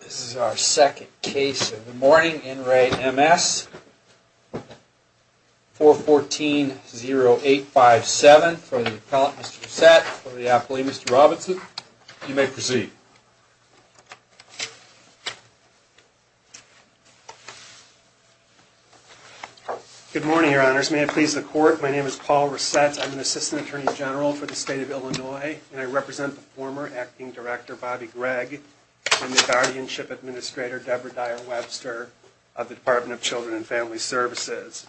This is our second case of the morning. In re M.S. 414-0857 for the appellant, Mr. Resett, for the appellee, Mr. Robinson. You may proceed. Good morning, your honors. May it please the court, my name is Paul Resett. I'm an assistant attorney general for the state of Illinois, and I represent the former acting director, Bobby Gregg, and the guardianship administrator, Deborah Dyer Webster, of the Department of Children and Family Services.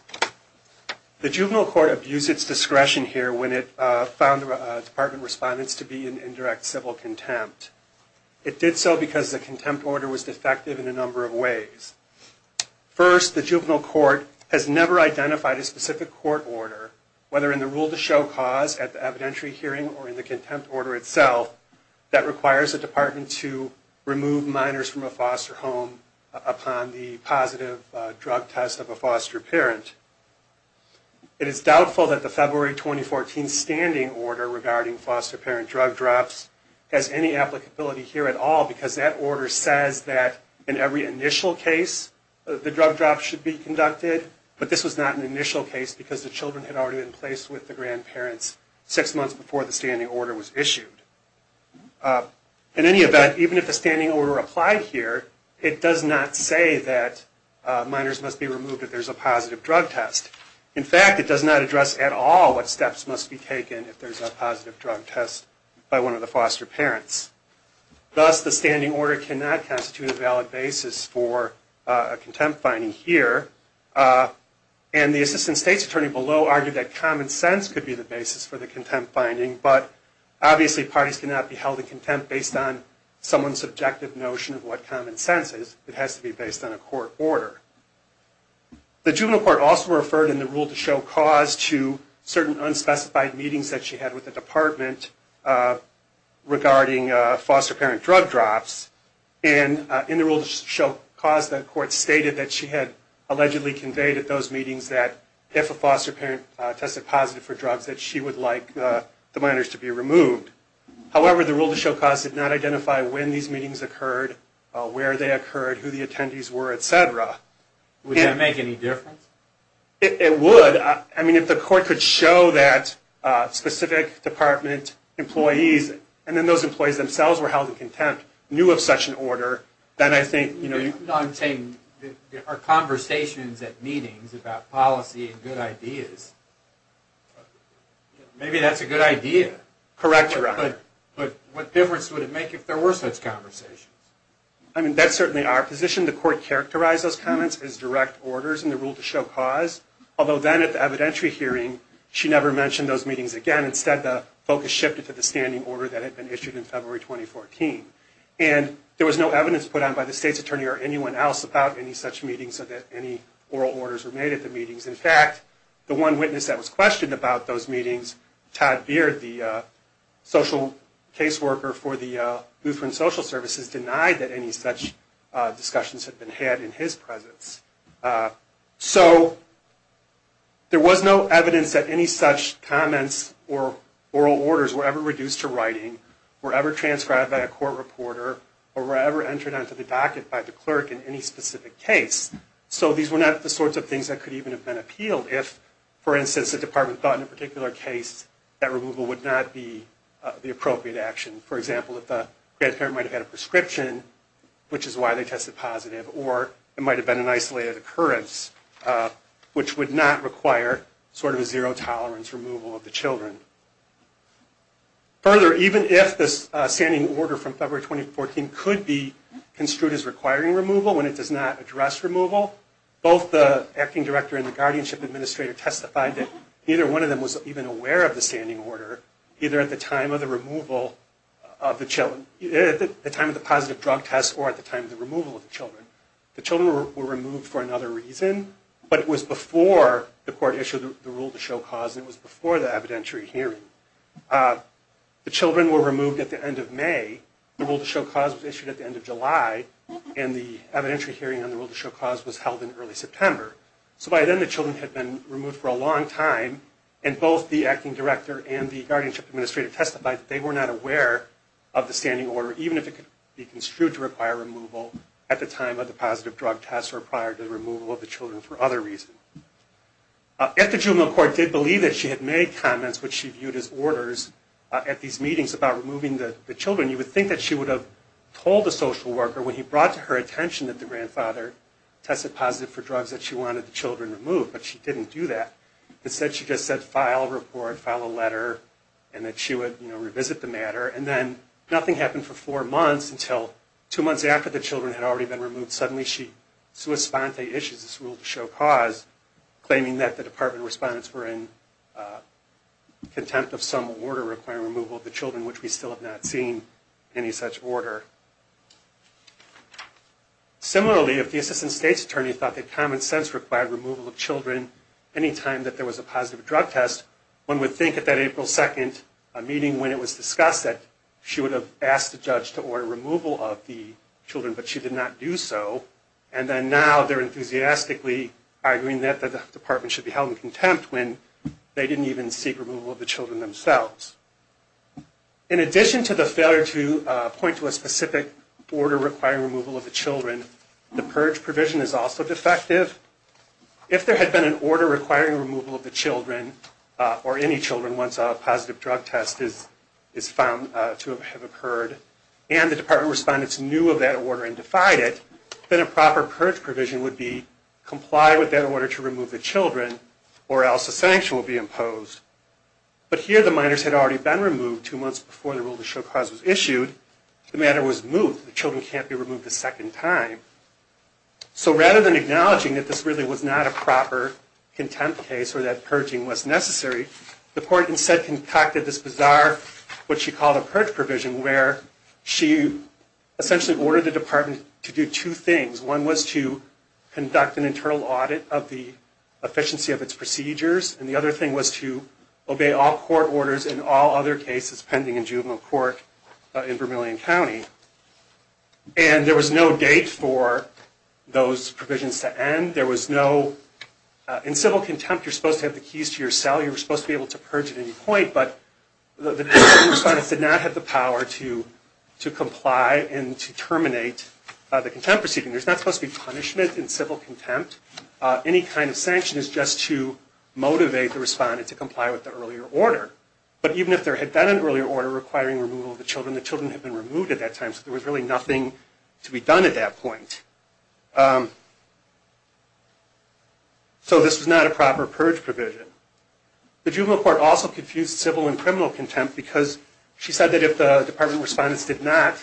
The juvenile court abused its discretion here when it found the department respondents to be in indirect civil contempt. It did so because the contempt order was defective in a number of ways. First, the juvenile court has never identified a specific court order, whether in the rule to show cause at the evidentiary hearing or in the contempt order itself, that requires the department to remove minors from a foster home upon the positive drug test of a foster parent. It is doubtful that the February 2014 standing order regarding foster parent drug drops has any applicability here at all, because that order says that in every initial case the drug drop should be conducted, but this was not an initial case because the children had already been placed with the grandparents six months before the standing order was issued. In any event, even if the standing order applied here, it does not say that minors must be removed if there's a positive drug test. In fact, it does not address at all what steps must be taken if there's a positive drug test by one of the foster parents. Thus, the standing order cannot constitute a valid basis for a contempt finding here. And the assistant state's attorney below argued that common sense could be the basis for the contempt finding, but obviously parties cannot be held in contempt based on someone's subjective notion of what common sense is. It has to be based on a court order. The juvenile court also referred in the rule to show cause to certain unspecified meetings that she had with the department regarding foster parent drug drops. And in the rule to show cause, the court stated that she had allegedly conveyed at those meetings that if a foster parent tested positive for drugs, that she would like the minors to be removed. However, the rule to show cause did not identify when these meetings occurred, where they occurred, who the attendees were, etc. Would that make any difference? It would. I mean, if the court could show that specific department employees, and then those employees themselves were held in contempt, knew of such an order, then I think... No, I'm saying there are conversations at meetings about policy and good ideas. Maybe that's a good idea. Correct, Your Honor. But what difference would it make if there were such conversations? I mean, that's certainly our position. The court characterized those comments as direct orders in the rule to show cause, although then at the evidentiary hearing, she never mentioned those meetings again. Instead, the focus shifted to the standing order that had been issued in February 2014. And there was no evidence put on by the state's attorney or anyone else about any such meetings or that any oral orders were made at the meetings. In fact, the one witness that was questioned about those meetings, Todd Beard, the social caseworker for the Lutheran Social Services, denied that any such discussions had been had in his presence. So, there was no evidence that any such comments or oral orders were ever reduced to writing, were ever transcribed by a court reporter, or were ever entered onto the docket by the clerk in any specific case. So, these were not the sorts of things that could even have been appealed if, for instance, the department thought in a particular case that removal would not be the appropriate action. For example, if the grandparent might have had a prescription, which is why they tested positive, or it might have been an isolated occurrence, which would not require sort of a zero-tolerance removal of the children. Further, even if this standing order from February 2014 could be construed as requiring removal when it does not address removal, both the acting director and the guardianship administrator testified that neither one of them was even aware of the standing order, either at the time of the removal of the children, at the time of the positive drug test, or at the time of the removal of the children. The children were removed for another reason, but it was before the court issued the rule to show cause, and it was before the evidentiary hearing. The children were removed at the end of May, the rule to show cause was issued at the end of July, and the evidentiary hearing on the rule to show cause was held in early September. So by then the children had been removed for a long time, and both the acting director and the guardianship administrator testified that they were not aware of the standing order, even if it could be construed to require removal at the time of the positive drug test or prior to the removal of the children for other reasons. If the juvenile court did believe that she had made comments which she viewed as orders at these meetings about removing the children, you would think that she would have told the social worker when he brought to her attention that the grandfather tested positive for drugs that she wanted the children removed, but she didn't do that. Instead she just said file a report, file a letter, and that she would revisit the matter, and then nothing happened for four months until two months after the children had already been removed, suddenly she sui sponte issues this rule to show cause, claiming that the department respondents were in contempt of some order requiring removal of the children, which we still have not seen any such order. Similarly, if the assistant state's attorney thought that common sense required removal of children any time that there was a positive drug test, one would think at that April 2nd meeting when it was discussed that she would have asked the judge to order removal of the children, but she did not do so, and then now they're enthusiastically arguing that the department should be held in contempt when they didn't even seek removal of the children themselves. In addition to the failure to point to a specific order requiring removal of the children, the purge provision is also defective. If there had been an order requiring removal of the children, or any children, once a positive drug test is found to have occurred, and the department respondents knew of that order and defied it, then a proper purge provision would be comply with that order to remove the children, or else a sanction would be imposed. But here the minors had already been removed two months before the rule to show cause was issued. The matter was moved. The children can't be removed a second time. So rather than acknowledging that this really was not a proper contempt case, or that purging was necessary, the court instead conducted this bizarre, what she called a purge provision, where she essentially ordered the department to do two things. One was to conduct an internal audit of the efficiency of its procedures, and the other thing was to obey all court orders in all other cases pending in juvenile court in Vermillion County. And there was no date for those provisions to end. In civil contempt, you're supposed to have the keys to your cell. You're supposed to be able to purge at any point, but the department respondents did not have the power to comply and to terminate the contempt proceeding. There's not supposed to be punishment in civil contempt. Any kind of sanction is just to motivate the respondent to comply with the earlier order. But even if there had been an earlier order requiring removal of the children, the children had been removed at that time, so there was really nothing to be done at that point. So this was not a proper purge provision. The juvenile court also confused civil and criminal contempt because she said that if the department respondents did not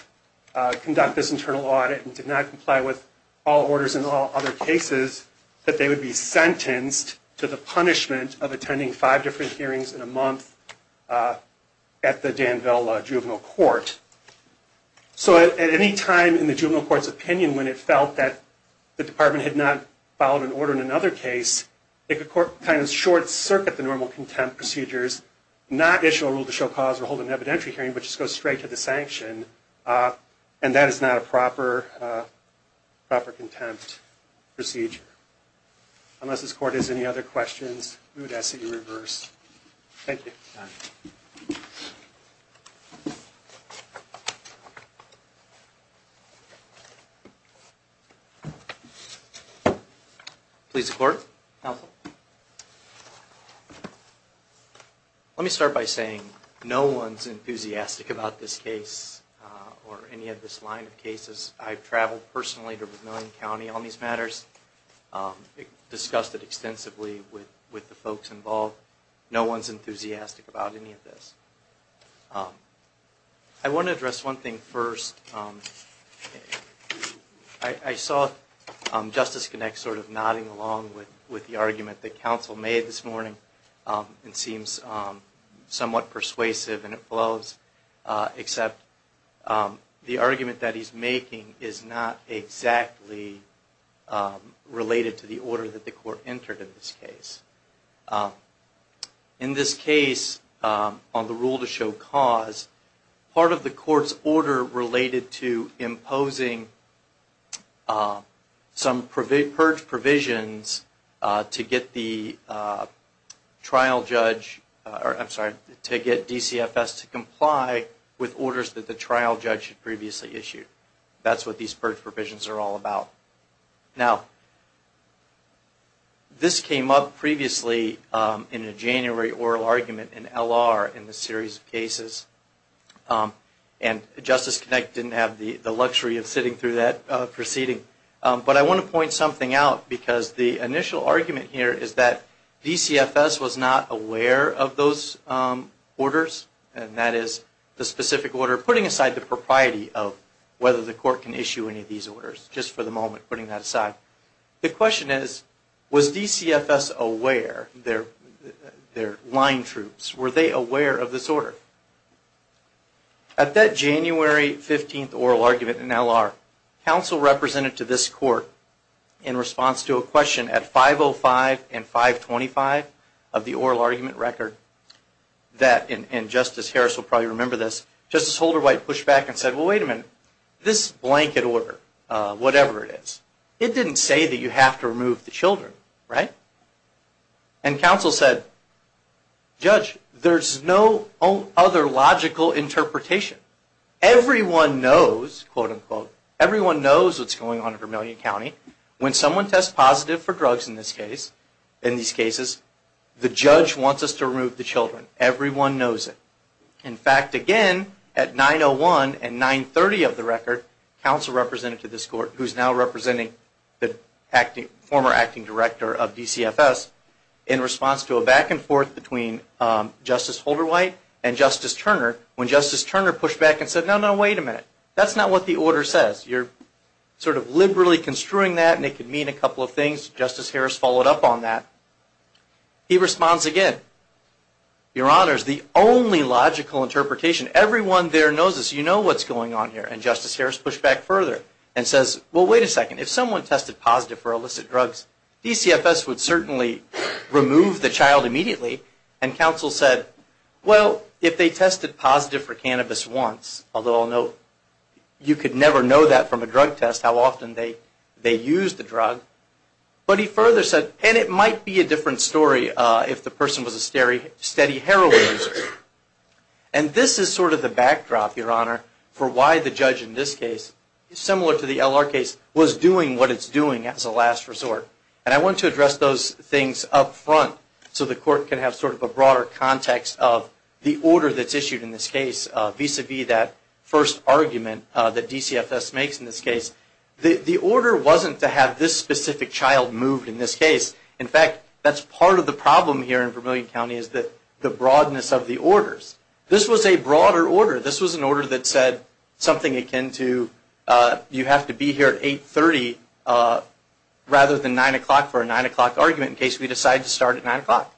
conduct this internal audit and did not comply with all orders in all other cases, that they would be sentenced to the punishment of attending five different hearings in a month at the Danville Juvenile Court. So at any time in the juvenile court's opinion when it felt that the department had not followed an order in another case, it could kind of short-circuit the normal contempt procedures, not issue a rule to show cause or hold an evidentiary hearing, but just go straight to the sanction. And that is not a proper contempt procedure. Unless this court has any other questions, we would ask that you reverse. Thank you. Let me start by saying no one is enthusiastic about this case or any of this line of cases. I've traveled personally to Vermilion County on these matters, discussed it extensively with the folks involved. No one is enthusiastic about any of this. I want to address one thing first. I saw Justice Connect sort of nodding along with the argument that counsel made this morning. It seems somewhat persuasive and it flows. Except the argument that he's making is not exactly related to the order that the court entered in this case. In this case, on the rule to show cause, part of the court's order related to imposing some purge provisions to get the trial judge, I'm sorry, to get DCFS to comply with orders that the trial judge had previously issued. That's what these purge provisions are all about. Now, this came up previously in a January oral argument in L.R. in this series of cases. And Justice Connect didn't have the luxury of sitting through that proceeding. But I want to point something out because the initial argument here is that DCFS was not aware of those orders. And that is the specific order, putting aside the propriety of whether the court can issue any of these orders. Just for the moment, putting that aside. The question is, was DCFS aware, their line troops, were they aware of this order? At that January 15th oral argument in L.R., counsel represented to this court in response to a question at 5.05 and 5.25 of the oral argument record, that, and Justice Harris will probably remember this, Justice Holderwhite pushed back and said, well, wait a minute, this blanket order, whatever it is, it didn't say that you have to remove the children, right? And counsel said, judge, there's no other logical interpretation. Everyone knows, quote unquote, everyone knows what's going on in Vermillion County. When someone tests positive for drugs in this case, in these cases, the judge wants us to remove the children. Everyone knows it. In fact, again, at 9.01 and 9.30 of the record, counsel represented to this court, who's now representing the former acting director of DCFS, in response to a back and forth between Justice Holderwhite and Justice Turner, when Justice Turner pushed back and said, no, no, wait a minute. That's not what the order says. You're sort of liberally construing that and it could mean a couple of things. Justice Harris followed up on that. He responds again. Your Honor, it's the only logical interpretation. Everyone there knows this. You know what's going on here. And Justice Harris pushed back further and says, well, wait a second. If someone tested positive for illicit drugs, DCFS would certainly remove the child immediately. And counsel said, well, if they tested positive for cannabis once, although I'll note you could never know that from a drug test, how often they used the drug. But he further said, and it might be a different story if the person was a steady heroin user. And this is sort of the backdrop, Your Honor, for why the judge in this case, similar to the L.R. case, was doing what it's doing as a last resort. And I want to address those things up front, so the court can have sort of a broader context of the order that's issued in this case, vis-a-vis that first argument that DCFS makes in this case. The order wasn't to have this specific child moved in this case. In fact, that's part of the problem here in Vermillion County, is the broadness of the orders. This was a broader order. This was an order that said something akin to, you have to be here at 8.30 rather than 9 o'clock for a 9 o'clock argument in case we decide to start at 9 o'clock.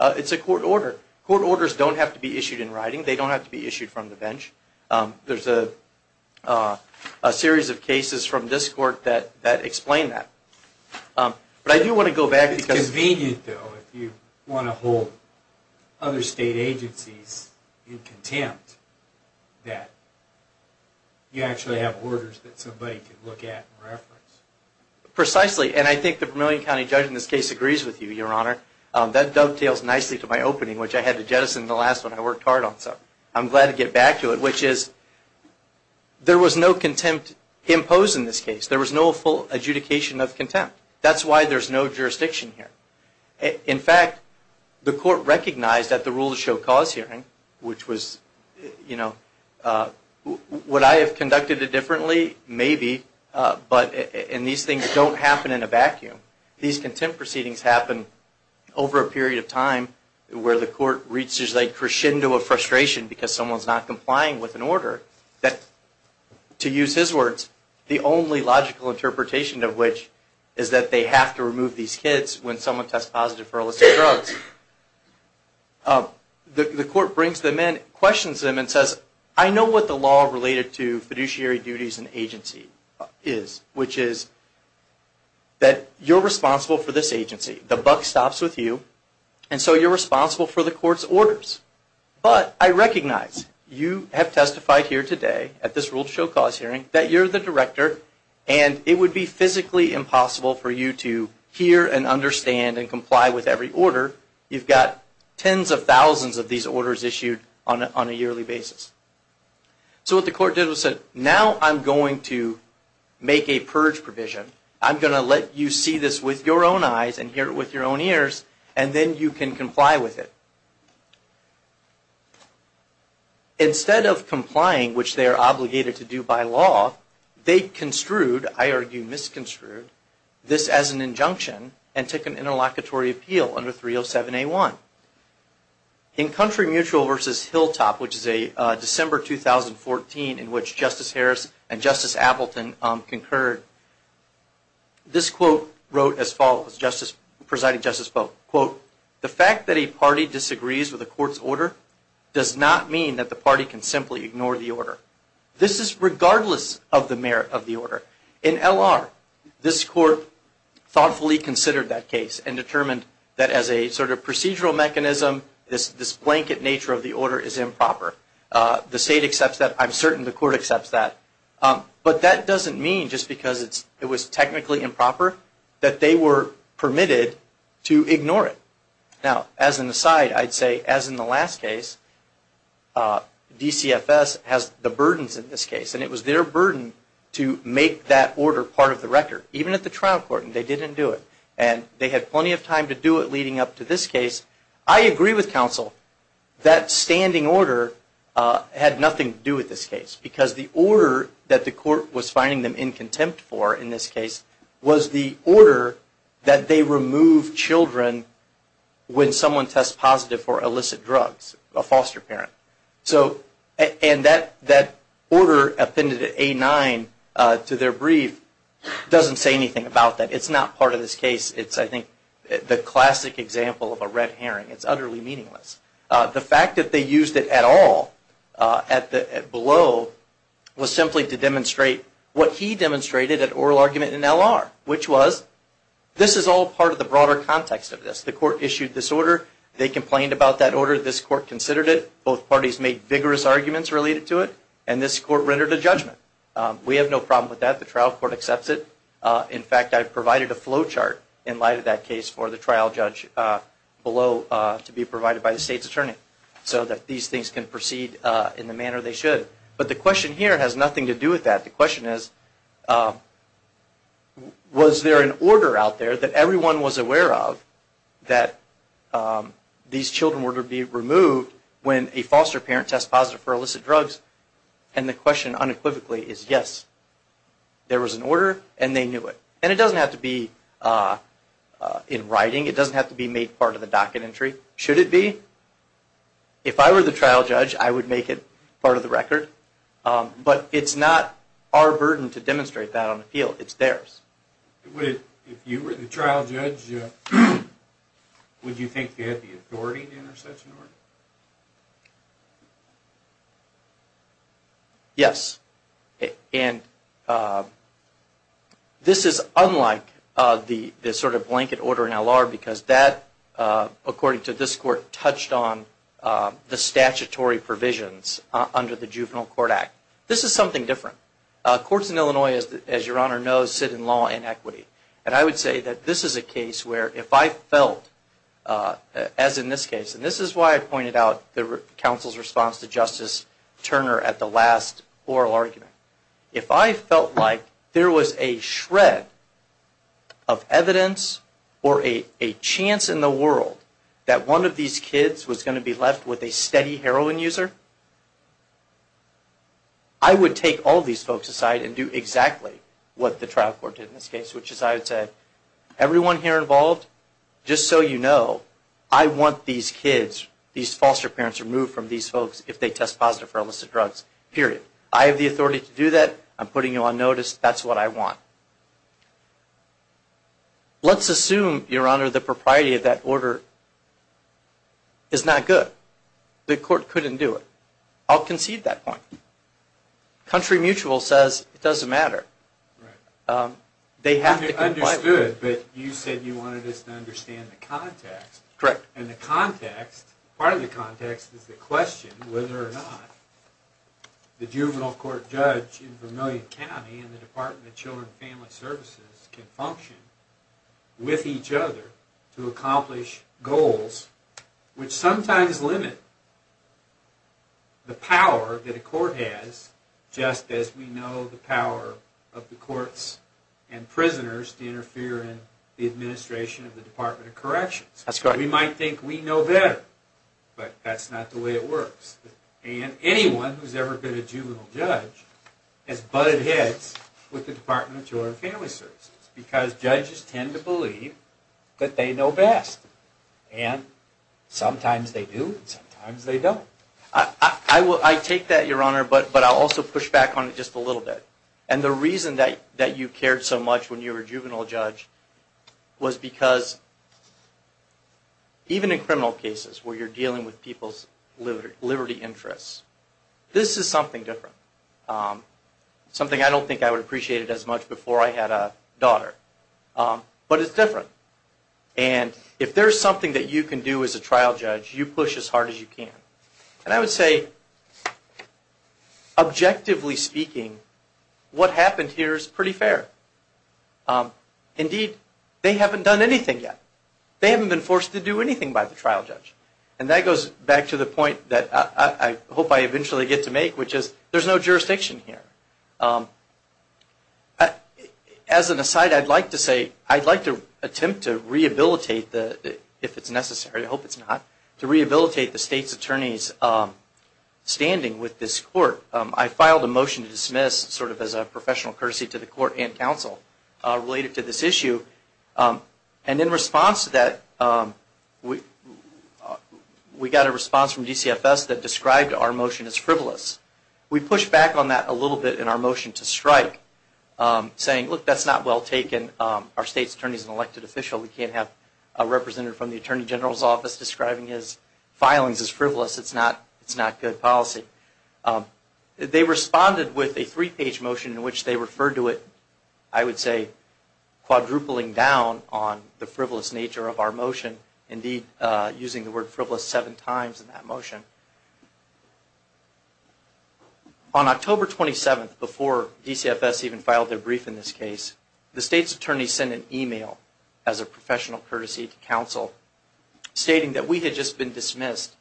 It's a court order. Court orders don't have to be issued in writing. They don't have to be issued from the bench. There's a series of cases from this court that explain that. But I do want to go back. It's convenient, though, if you want to hold other state agencies in contempt that you actually have orders that somebody can look at and reference. Precisely. And I think the Vermillion County judge in this case agrees with you, Your Honor. That dovetails nicely to my opening, which I had to jettison in the last one I worked hard on. So I'm glad to get back to it, which is, there was no contempt imposed in this case. There was no full adjudication of contempt. That's why there's no jurisdiction here. In fact, the court recognized at the rule of show cause hearing, which was, you know, would I have conducted it differently? Maybe. And these things don't happen in a vacuum. These contempt proceedings happen over a period of time where the court reaches a crescendo of frustration because someone's not complying with an order. To use his words, the only logical interpretation of which is that they have to remove these kids when someone tests positive for illicit drugs. The court brings them in, questions them, and says, I know what the law related to fiduciary duties and agency is, which is that you're responsible for this agency. The buck stops with you. And so you're responsible for the court's orders. But I recognize you have testified here today at this rule of show cause hearing that you're the director and it would be physically impossible for you to hear and understand and comply with every order. You've got tens of thousands of these orders issued on a yearly basis. So what the court did was said, now I'm going to make a purge provision. I'm going to let you see this with your own eyes and hear it with your own ears, and then you can comply with it. Instead of complying, which they are obligated to do by law, they construed, I argue misconstrued, this as an injunction and took an interlocutory appeal under 307A1. In Country Mutual versus Hilltop, which is a December 2014 in which Justice Harris and Justice Appleton concurred, this quote wrote as follows, presiding justice spoke, quote, the fact that a party disagrees with a court's order does not mean that the party can simply ignore the order. This is regardless of the merit of the order. In L.R., this court thoughtfully considered that case and determined that as a sort of procedural mechanism, this blanket nature of the order is improper. The state accepts that. I'm certain the court accepts that. But that doesn't mean just because it was technically improper that they were permitted to ignore it. Now, as an aside, I'd say as in the last case, DCFS has the burdens in this case, and it was their burden to make that order part of the record, even at the trial court, and they didn't do it. And they had plenty of time to do it leading up to this case. I agree with counsel that standing order had nothing to do with this case, because the order that the court was finding them in contempt for in this case was the order that they remove children when someone tests positive for illicit drugs, a foster parent. And that order appended at A-9 to their brief doesn't say anything about that. It's not part of this case. It's, I think, the classic example of a red herring. It's utterly meaningless. The fact that they used it at all below was simply to demonstrate what he demonstrated at oral argument in L.R., which was this is all part of the broader context of this. The court issued this order. They complained about that order. This court considered it. Both parties made vigorous arguments related to it, and this court rendered a judgment. We have no problem with that. The trial court accepts it. In fact, I've provided a flow chart in light of that case for the trial judge below to be provided by the state's attorney so that these things can proceed in the manner they should. But the question here has nothing to do with that. The question is, was there an order out there that everyone was aware of that these children were to be removed when a foster parent tests positive for illicit drugs? And the question unequivocally is yes. There was an order, and they knew it. And it doesn't have to be in writing. It doesn't have to be made part of the docket entry. Should it be? If I were the trial judge, I would make it part of the record. But it's not our burden to demonstrate that on appeal. It's theirs. If you were the trial judge, would you think they had the authority to enter such an order? Yes. And this is unlike the sort of blanket order in L.R. because that, according to this court, touched on the statutory provisions under the Juvenile Court Act. This is something different. Courts in Illinois, as Your Honor knows, sit in law and equity. And I would say that this is a case where if I felt, as in this case, and this is why I pointed out the counsel's response to Justice Turner at the last oral argument. If I felt like there was a shred of evidence or a chance in the world that one of these kids was going to be left with a steady heroin user, I would take all these folks aside and do exactly what the trial court did in this case, which is I would say, everyone here involved, just so you know, I want these kids, these foster parents, removed from these folks if they test positive for illicit drugs. I have the authority to do that. I'm putting you on notice. That's what I want. Let's assume, Your Honor, that property of that order is not good. The court couldn't do it. I'll concede that point. Country Mutual says it doesn't matter. They have to comply with it. And you understood, but you said you wanted us to understand the context. Correct. And the context, part of the context, is the question whether or not the juvenile court judge in Vermillion County and the Department of Children and Family Services can function with each other to accomplish goals which sometimes limit the power that a court has just as we know the power of the courts and prisoners to interfere in the administration of the Department of Corrections. We might think we know better, but that's not the way it works. And anyone who's ever been a juvenile judge has butted heads with the Department of Children and Family Services because judges tend to believe that they know best. And sometimes they do and sometimes they don't. I take that, Your Honor, but I'll also push back on it just a little bit. And the reason that you cared so much when you were a juvenile judge was because even in criminal cases where you're dealing with people's liberty interests, this is something different. Something I don't think I would appreciate it as much before I had a daughter. But it's different. And if there's something that you can do as a trial judge, you push as hard as you can. And I would say, objectively speaking, what happened here is pretty fair. Indeed, they haven't done anything yet. They haven't been forced to do anything by the trial judge. And that goes back to the point that I hope I eventually get to make, which is, there's no jurisdiction here. As an aside, I'd like to say, I'd like to attempt to rehabilitate the, if it's necessary, I hope it's not, to rehabilitate the state's attorney's standing with this court. I filed a motion to dismiss sort of as a professional courtesy to the court and counsel related to this issue. And in response to that, we got a response from DCFS that described our motion as frivolous. We pushed back on that a little bit in our motion to strike, saying, look, that's not well taken. Our state's attorney is an elected official. We can't have a representative from the Attorney General's office describing his filings as frivolous. It's not, it's not good policy. They responded with a three-page motion in which they referred to it, I would say, quadrupling down on the frivolous nature of our motion. Indeed, using the word frivolous seven times in that motion. On October 27th, before DCFS even filed their brief in this case, the state's attorney sent an email as a professional courtesy to counsel stating that we had just been dismissed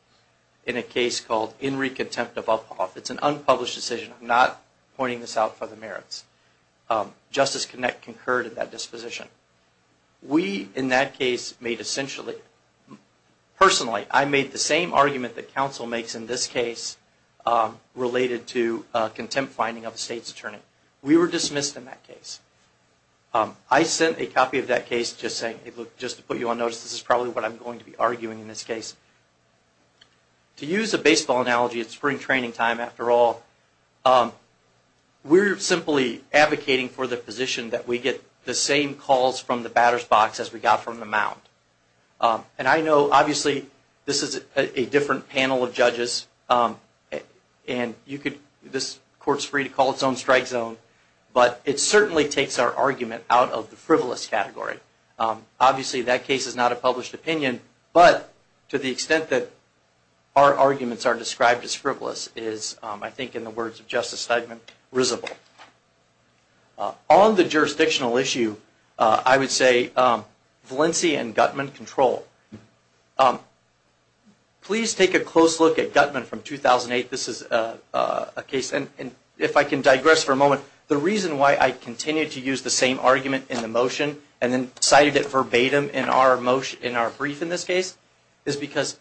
in a case called In Re Contempt of Uphoff. It's an unpublished decision. I'm not pointing this out for the merits. Justice Connett concurred at that disposition. We, in that case, made essentially, personally, I made the same argument that counsel makes in this case related to contempt finding of the state's attorney. We were dismissed in that case. I sent a copy of that case just to put you on notice. This is probably what I'm going to be arguing in this case. To use a baseball analogy, it's spring training time after all. We're simply advocating for the position that we get the same calls from the batter's box as we got from the mound. I know, obviously, this is a different panel of judges. This court is free to call its own strike zone, but it certainly takes our argument out of the frivolous category. Obviously, that case is not a published opinion, but to the extent that our arguments are described as frivolous is, I think, in the words of Justice Steigman, risible. On the jurisdictional issue, I would say Valencia and Gutman control. Please take a close look at Gutman from 2008. This is a case. If I can digress for a moment, the reason why I continue to use the same argument in the motion and then cited it verbatim in our brief in this case is because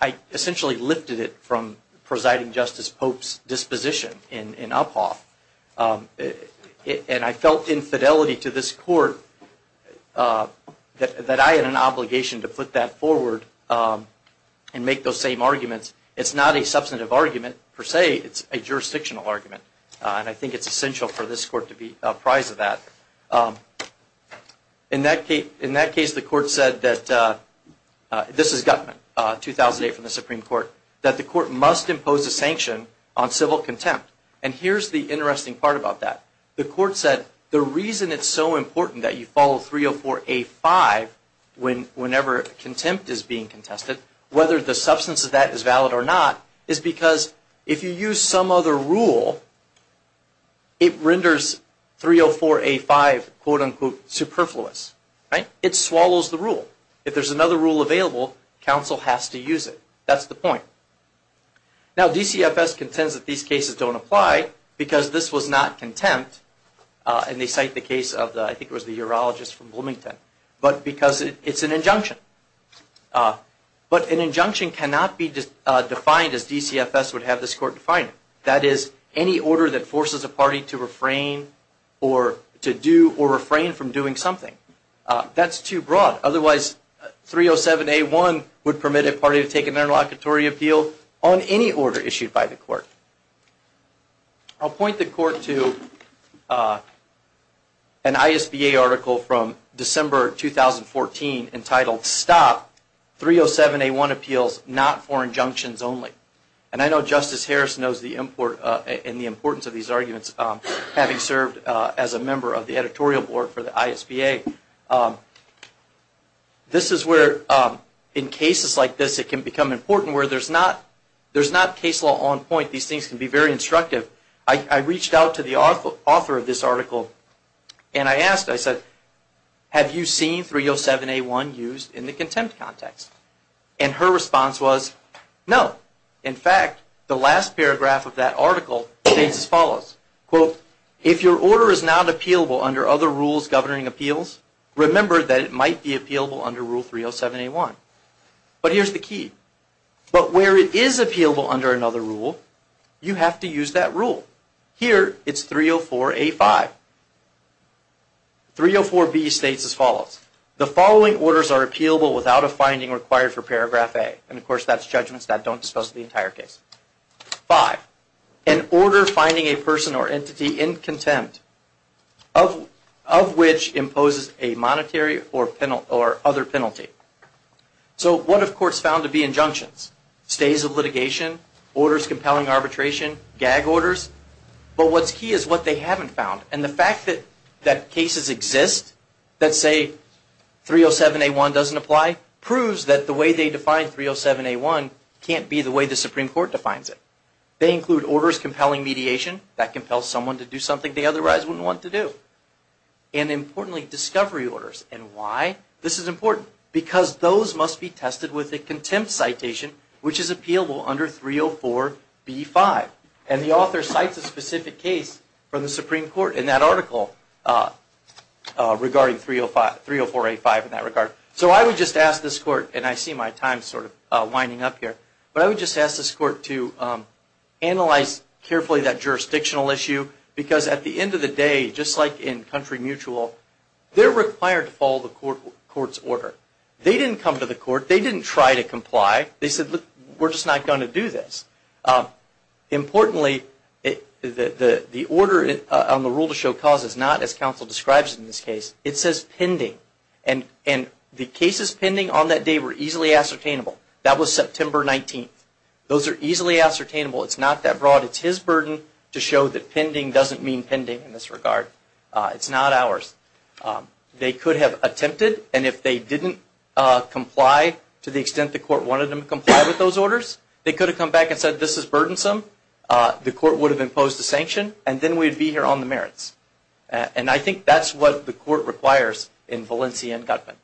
I essentially lifted it from presiding Justice Pope's disposition in Uphoff. I felt infidelity to this court that I had an obligation to put that forward and make those same arguments. It's not a substantive argument per se. It's a jurisdictional argument. I think it's essential for this court to be apprised of that. In that case, the court said that this is Gutman 2008 from the Supreme Court that the court must impose a sanction on civil contempt. Here's the interesting part about that. The court said the reason it's so important that you follow 304A5 whenever contempt is being contested, whether the substance of that is valid or not, is because if you use some other rule it renders 304A5 quote-unquote superfluous. It swallows the rule. If there's another rule available, counsel has to use it. That's the point. Now DCFS contends that these cases don't apply because this was not contempt and they cite the case of I think it was the urologist from Bloomington but because it's an injunction. But an injunction cannot be defined as DCFS would have this court define it. That is any order that forces a party to refrain or to do or refrain from doing something. That's too broad. Otherwise 307A1 would permit a party to take an interlocutory appeal on any order issued by the court. I'll point the court to an ISBA article from December 2014 entitled Stop 307A1 Appeals Not For Injunctions Only. And I know Justice Harris knows the importance of these arguments having served as a member of the editorial board for the ISBA. This is where in cases like this it can become important where there's not case law on point. These things can be very instructive. I reached out to the author of this article and I asked I said have you seen 307A1 used in the contempt context? And her response was no. In fact, the last paragraph of that article states as follows quote if your order is not appealable under other rules governing appeals remember that it might be appealable under rule 307A1. But here's the key. But where it is appealable under another rule you have to use that rule. Here it's 304A5. 304B states as follows the following orders are appealable without a finding required for paragraph A. And of course that's judgments that don't dispose of the entire case. 5. finding a person or entity in contempt of which imposes a monetary or other penalty. So what have courts found to be injunctions? Stays of litigation, orders compelling arbitration, gag orders. But what's key is what they haven't found. And the fact that cases exist that say 307A1 doesn't apply proves that the way they define 307A1 can't be the way the Supreme Court defines it. They include orders compelling mediation. That compels someone to do something they otherwise wouldn't want to do. And importantly discovery orders. And why? This is important because those must be tested with a contempt citation which is appealable under 304B5. And the author cites a specific case from the Supreme Court in that article regarding 304A5 in that regard. So I would just ask this court, and I see my time sort of winding up here, but I would just ask this court to analyze carefully that jurisdictional issue because at the end of the day, just like in country mutual, they're required to follow the court's order. They didn't come to the court. They didn't try to comply. They said we're just not going to do this. Importantly, the order on the rule to show cause is not as counsel describes it in this case. It says pending. And the word pending doesn't mean pending in this regard. It's not ours. They could have attempted, and if they didn't comply to the extent the court wanted them to comply with those orders, they could have come back and said this is burdensome, the court would have imposed a sanction, and then we'd be here on our own. So that's the reason why they didn't come to the court. So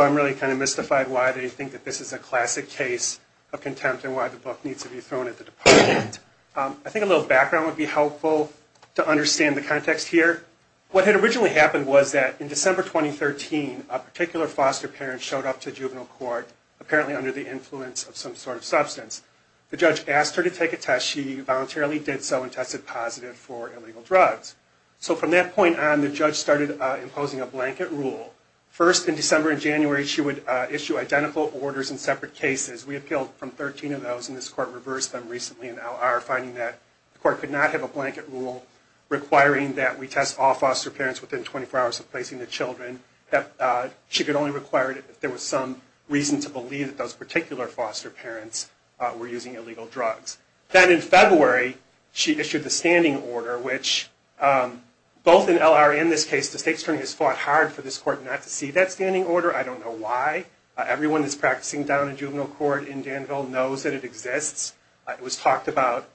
I'm really kind of mystified why they think this is a classic case of contempt and why the book needs to be thrown at the department. I think a little background would be helpful to understand the context here. What had originally happened was that in December 2013, a particular foster parent showed up to juvenile court apparently under the influence of some sort of substance. The judge asked her to take a test. She voluntarily did so and tested positive for illegal drugs. So from that point on, the judge started imposing a blanket rule. First, in December and January, she would issue identical orders in separate cases. We appealed from 13 of those and this court reversed them recently and now are finding that the court could not have a blanket rule requiring that we test all foster parents within 24 hours of placing the So while in this case the state attorney has fought hard for this court not to see that standing order, I don't know why. Everyone that's practicing down in juvenile court in Danville knows that it exists. It was talked about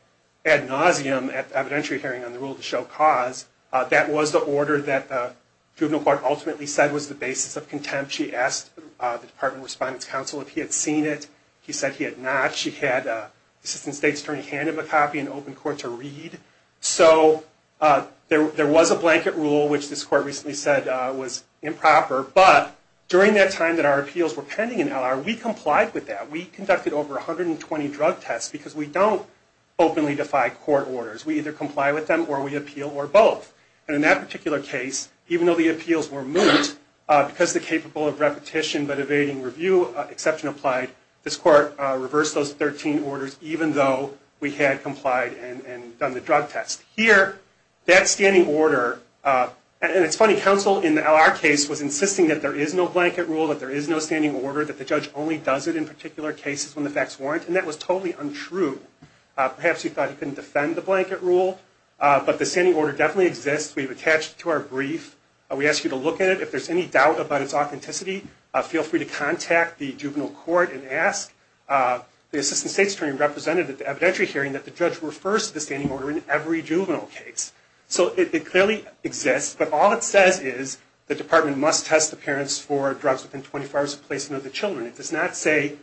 ad nauseum at the evidentiary hearing on the rule to show cause. That was the order that the juvenile court ultimately said was the basis of contempt. She asked the Department of Respondents Council if he had seen it. He said he had not. She had the assistant state attorney hand him a copy and open court to read. So there was a blanket rule which this court recently said was the basis of contempt. In that particular case, even though the appeals were moved because the capable of repetition but evading review exception applied, this court reversed those 13 orders even though we had complied and done the drug test. Here, that standing order, and it's funny, counsel in our case was insisting that there is no blanket rule, that there is no standing order, that the judge only does it in particular cases when the facts warrant, and that was totally untrue. Perhaps he thought he couldn't defend the blanket rule, but the standing order definitely exists. We've attached it to our brief. We ask you to look at it. If there's any doubt about its authenticity, feel free to contact the juvenile court and ask. The assistant state attorney represented at the evidentiary hearing that the judge refers to the standing order in every juvenile case. So it clearly exists, but all it says is the department must test the parents for drugs within 24 hours of placing of the child. If the judge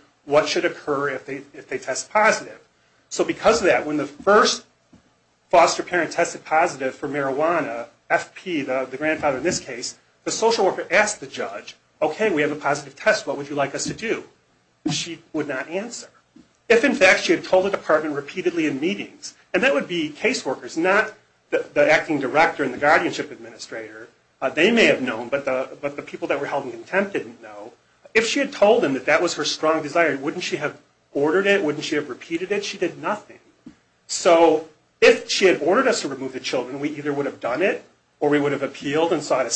asked the judge, okay, we have a positive test, what would you like us to do? She would not answer. If, in fact, she had told the department repeatedly in meetings, and that would be caseworkers, not the acting director and the guardianship administrator, they may have known, but the people that were held in contempt didn't know, if she had told them that that was her strong desire, wouldn't she have ordered it? Wouldn't she have repeated it? She did nothing. So if she had ordered us to remove the children, we either would have done it, or we would have appealed and said,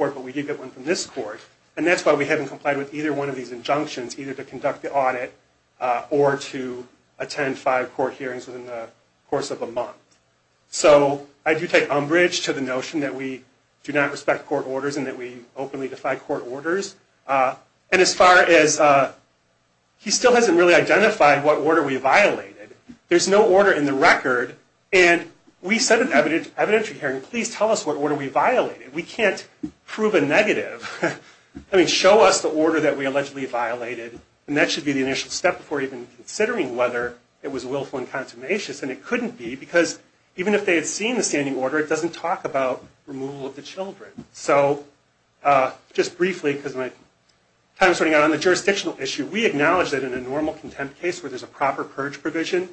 well, we did get one from this court, and that's why we haven't complied with either one of these injunctions, either to conduct the audit or to attend five court hearings within the course of a month. So I do take umbrage to the notion that we do not respect court orders and that we openly defy court orders. And as far as, he still hasn't really identified what order we violated. There's no order in the record, and we sent an evidentiary hearing, please tell us what order we violated. We can't prove a negative. I mean, show us the order that we allegedly violated, and that should be the initial step before even considering whether it was willful and consummatious, and it couldn't be because even if they had seen the standing order, it doesn't talk about removal of the children. So, just briefly, because my time is running out on the jurisdictional issue, we acknowledge that in a normal contempt case where there's a proper purge provision,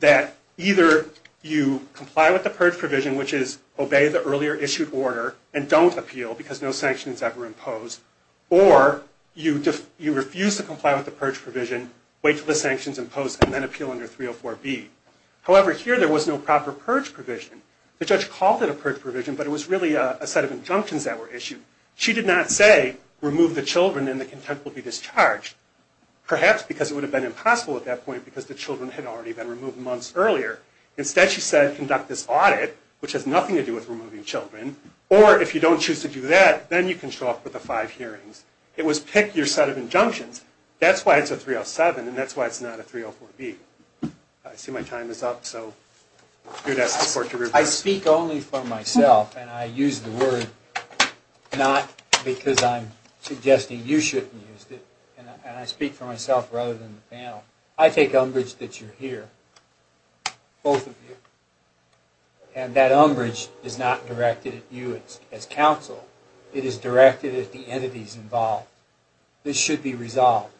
that either you comply with the purge provision, which is obey the earlier issued order, and don't appeal because no sanction is ever imposed, or you refuse to comply with the purge provision, wait until the sanction is imposed, and then appeal under 304B. However, here there was no proper purge provision. The judge called it a purge provision, but it was really a set of injunctions that were issued. She did not say remove the children and the contempt will be discharged, perhaps because it would have been impossible at that point because the children had already been removed months earlier. Instead, she said conduct this audit, which has nothing to do with removing children, or if you don't choose to do that, then you can show up for the five hearings. It was pick your set of injunctions. That's why it's a 307, and that's why it's not a 304B. I see my time is up, so I ask for your support. I speak only for myself, and I use the word not because I'm suggesting you shouldn't use it, and I speak for myself rather than the panel. I take umbrage that you're here, both of you, and that umbrage is not directed at you as counsel. It is directed at the entities involved. This should be resolved.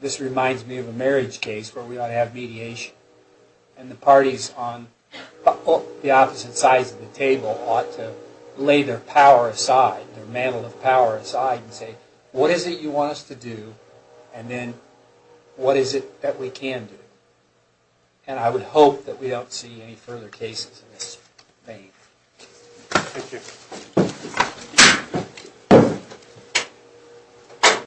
This reminds me of a marriage case where we ought to have mediation, and the parties on the opposite sides of the table ought to lay their power aside, their mantle of power aside, and say, what is it you want us to do, and then what is it that we can do? And I would hope that we don't see any further cases of this. Thank you.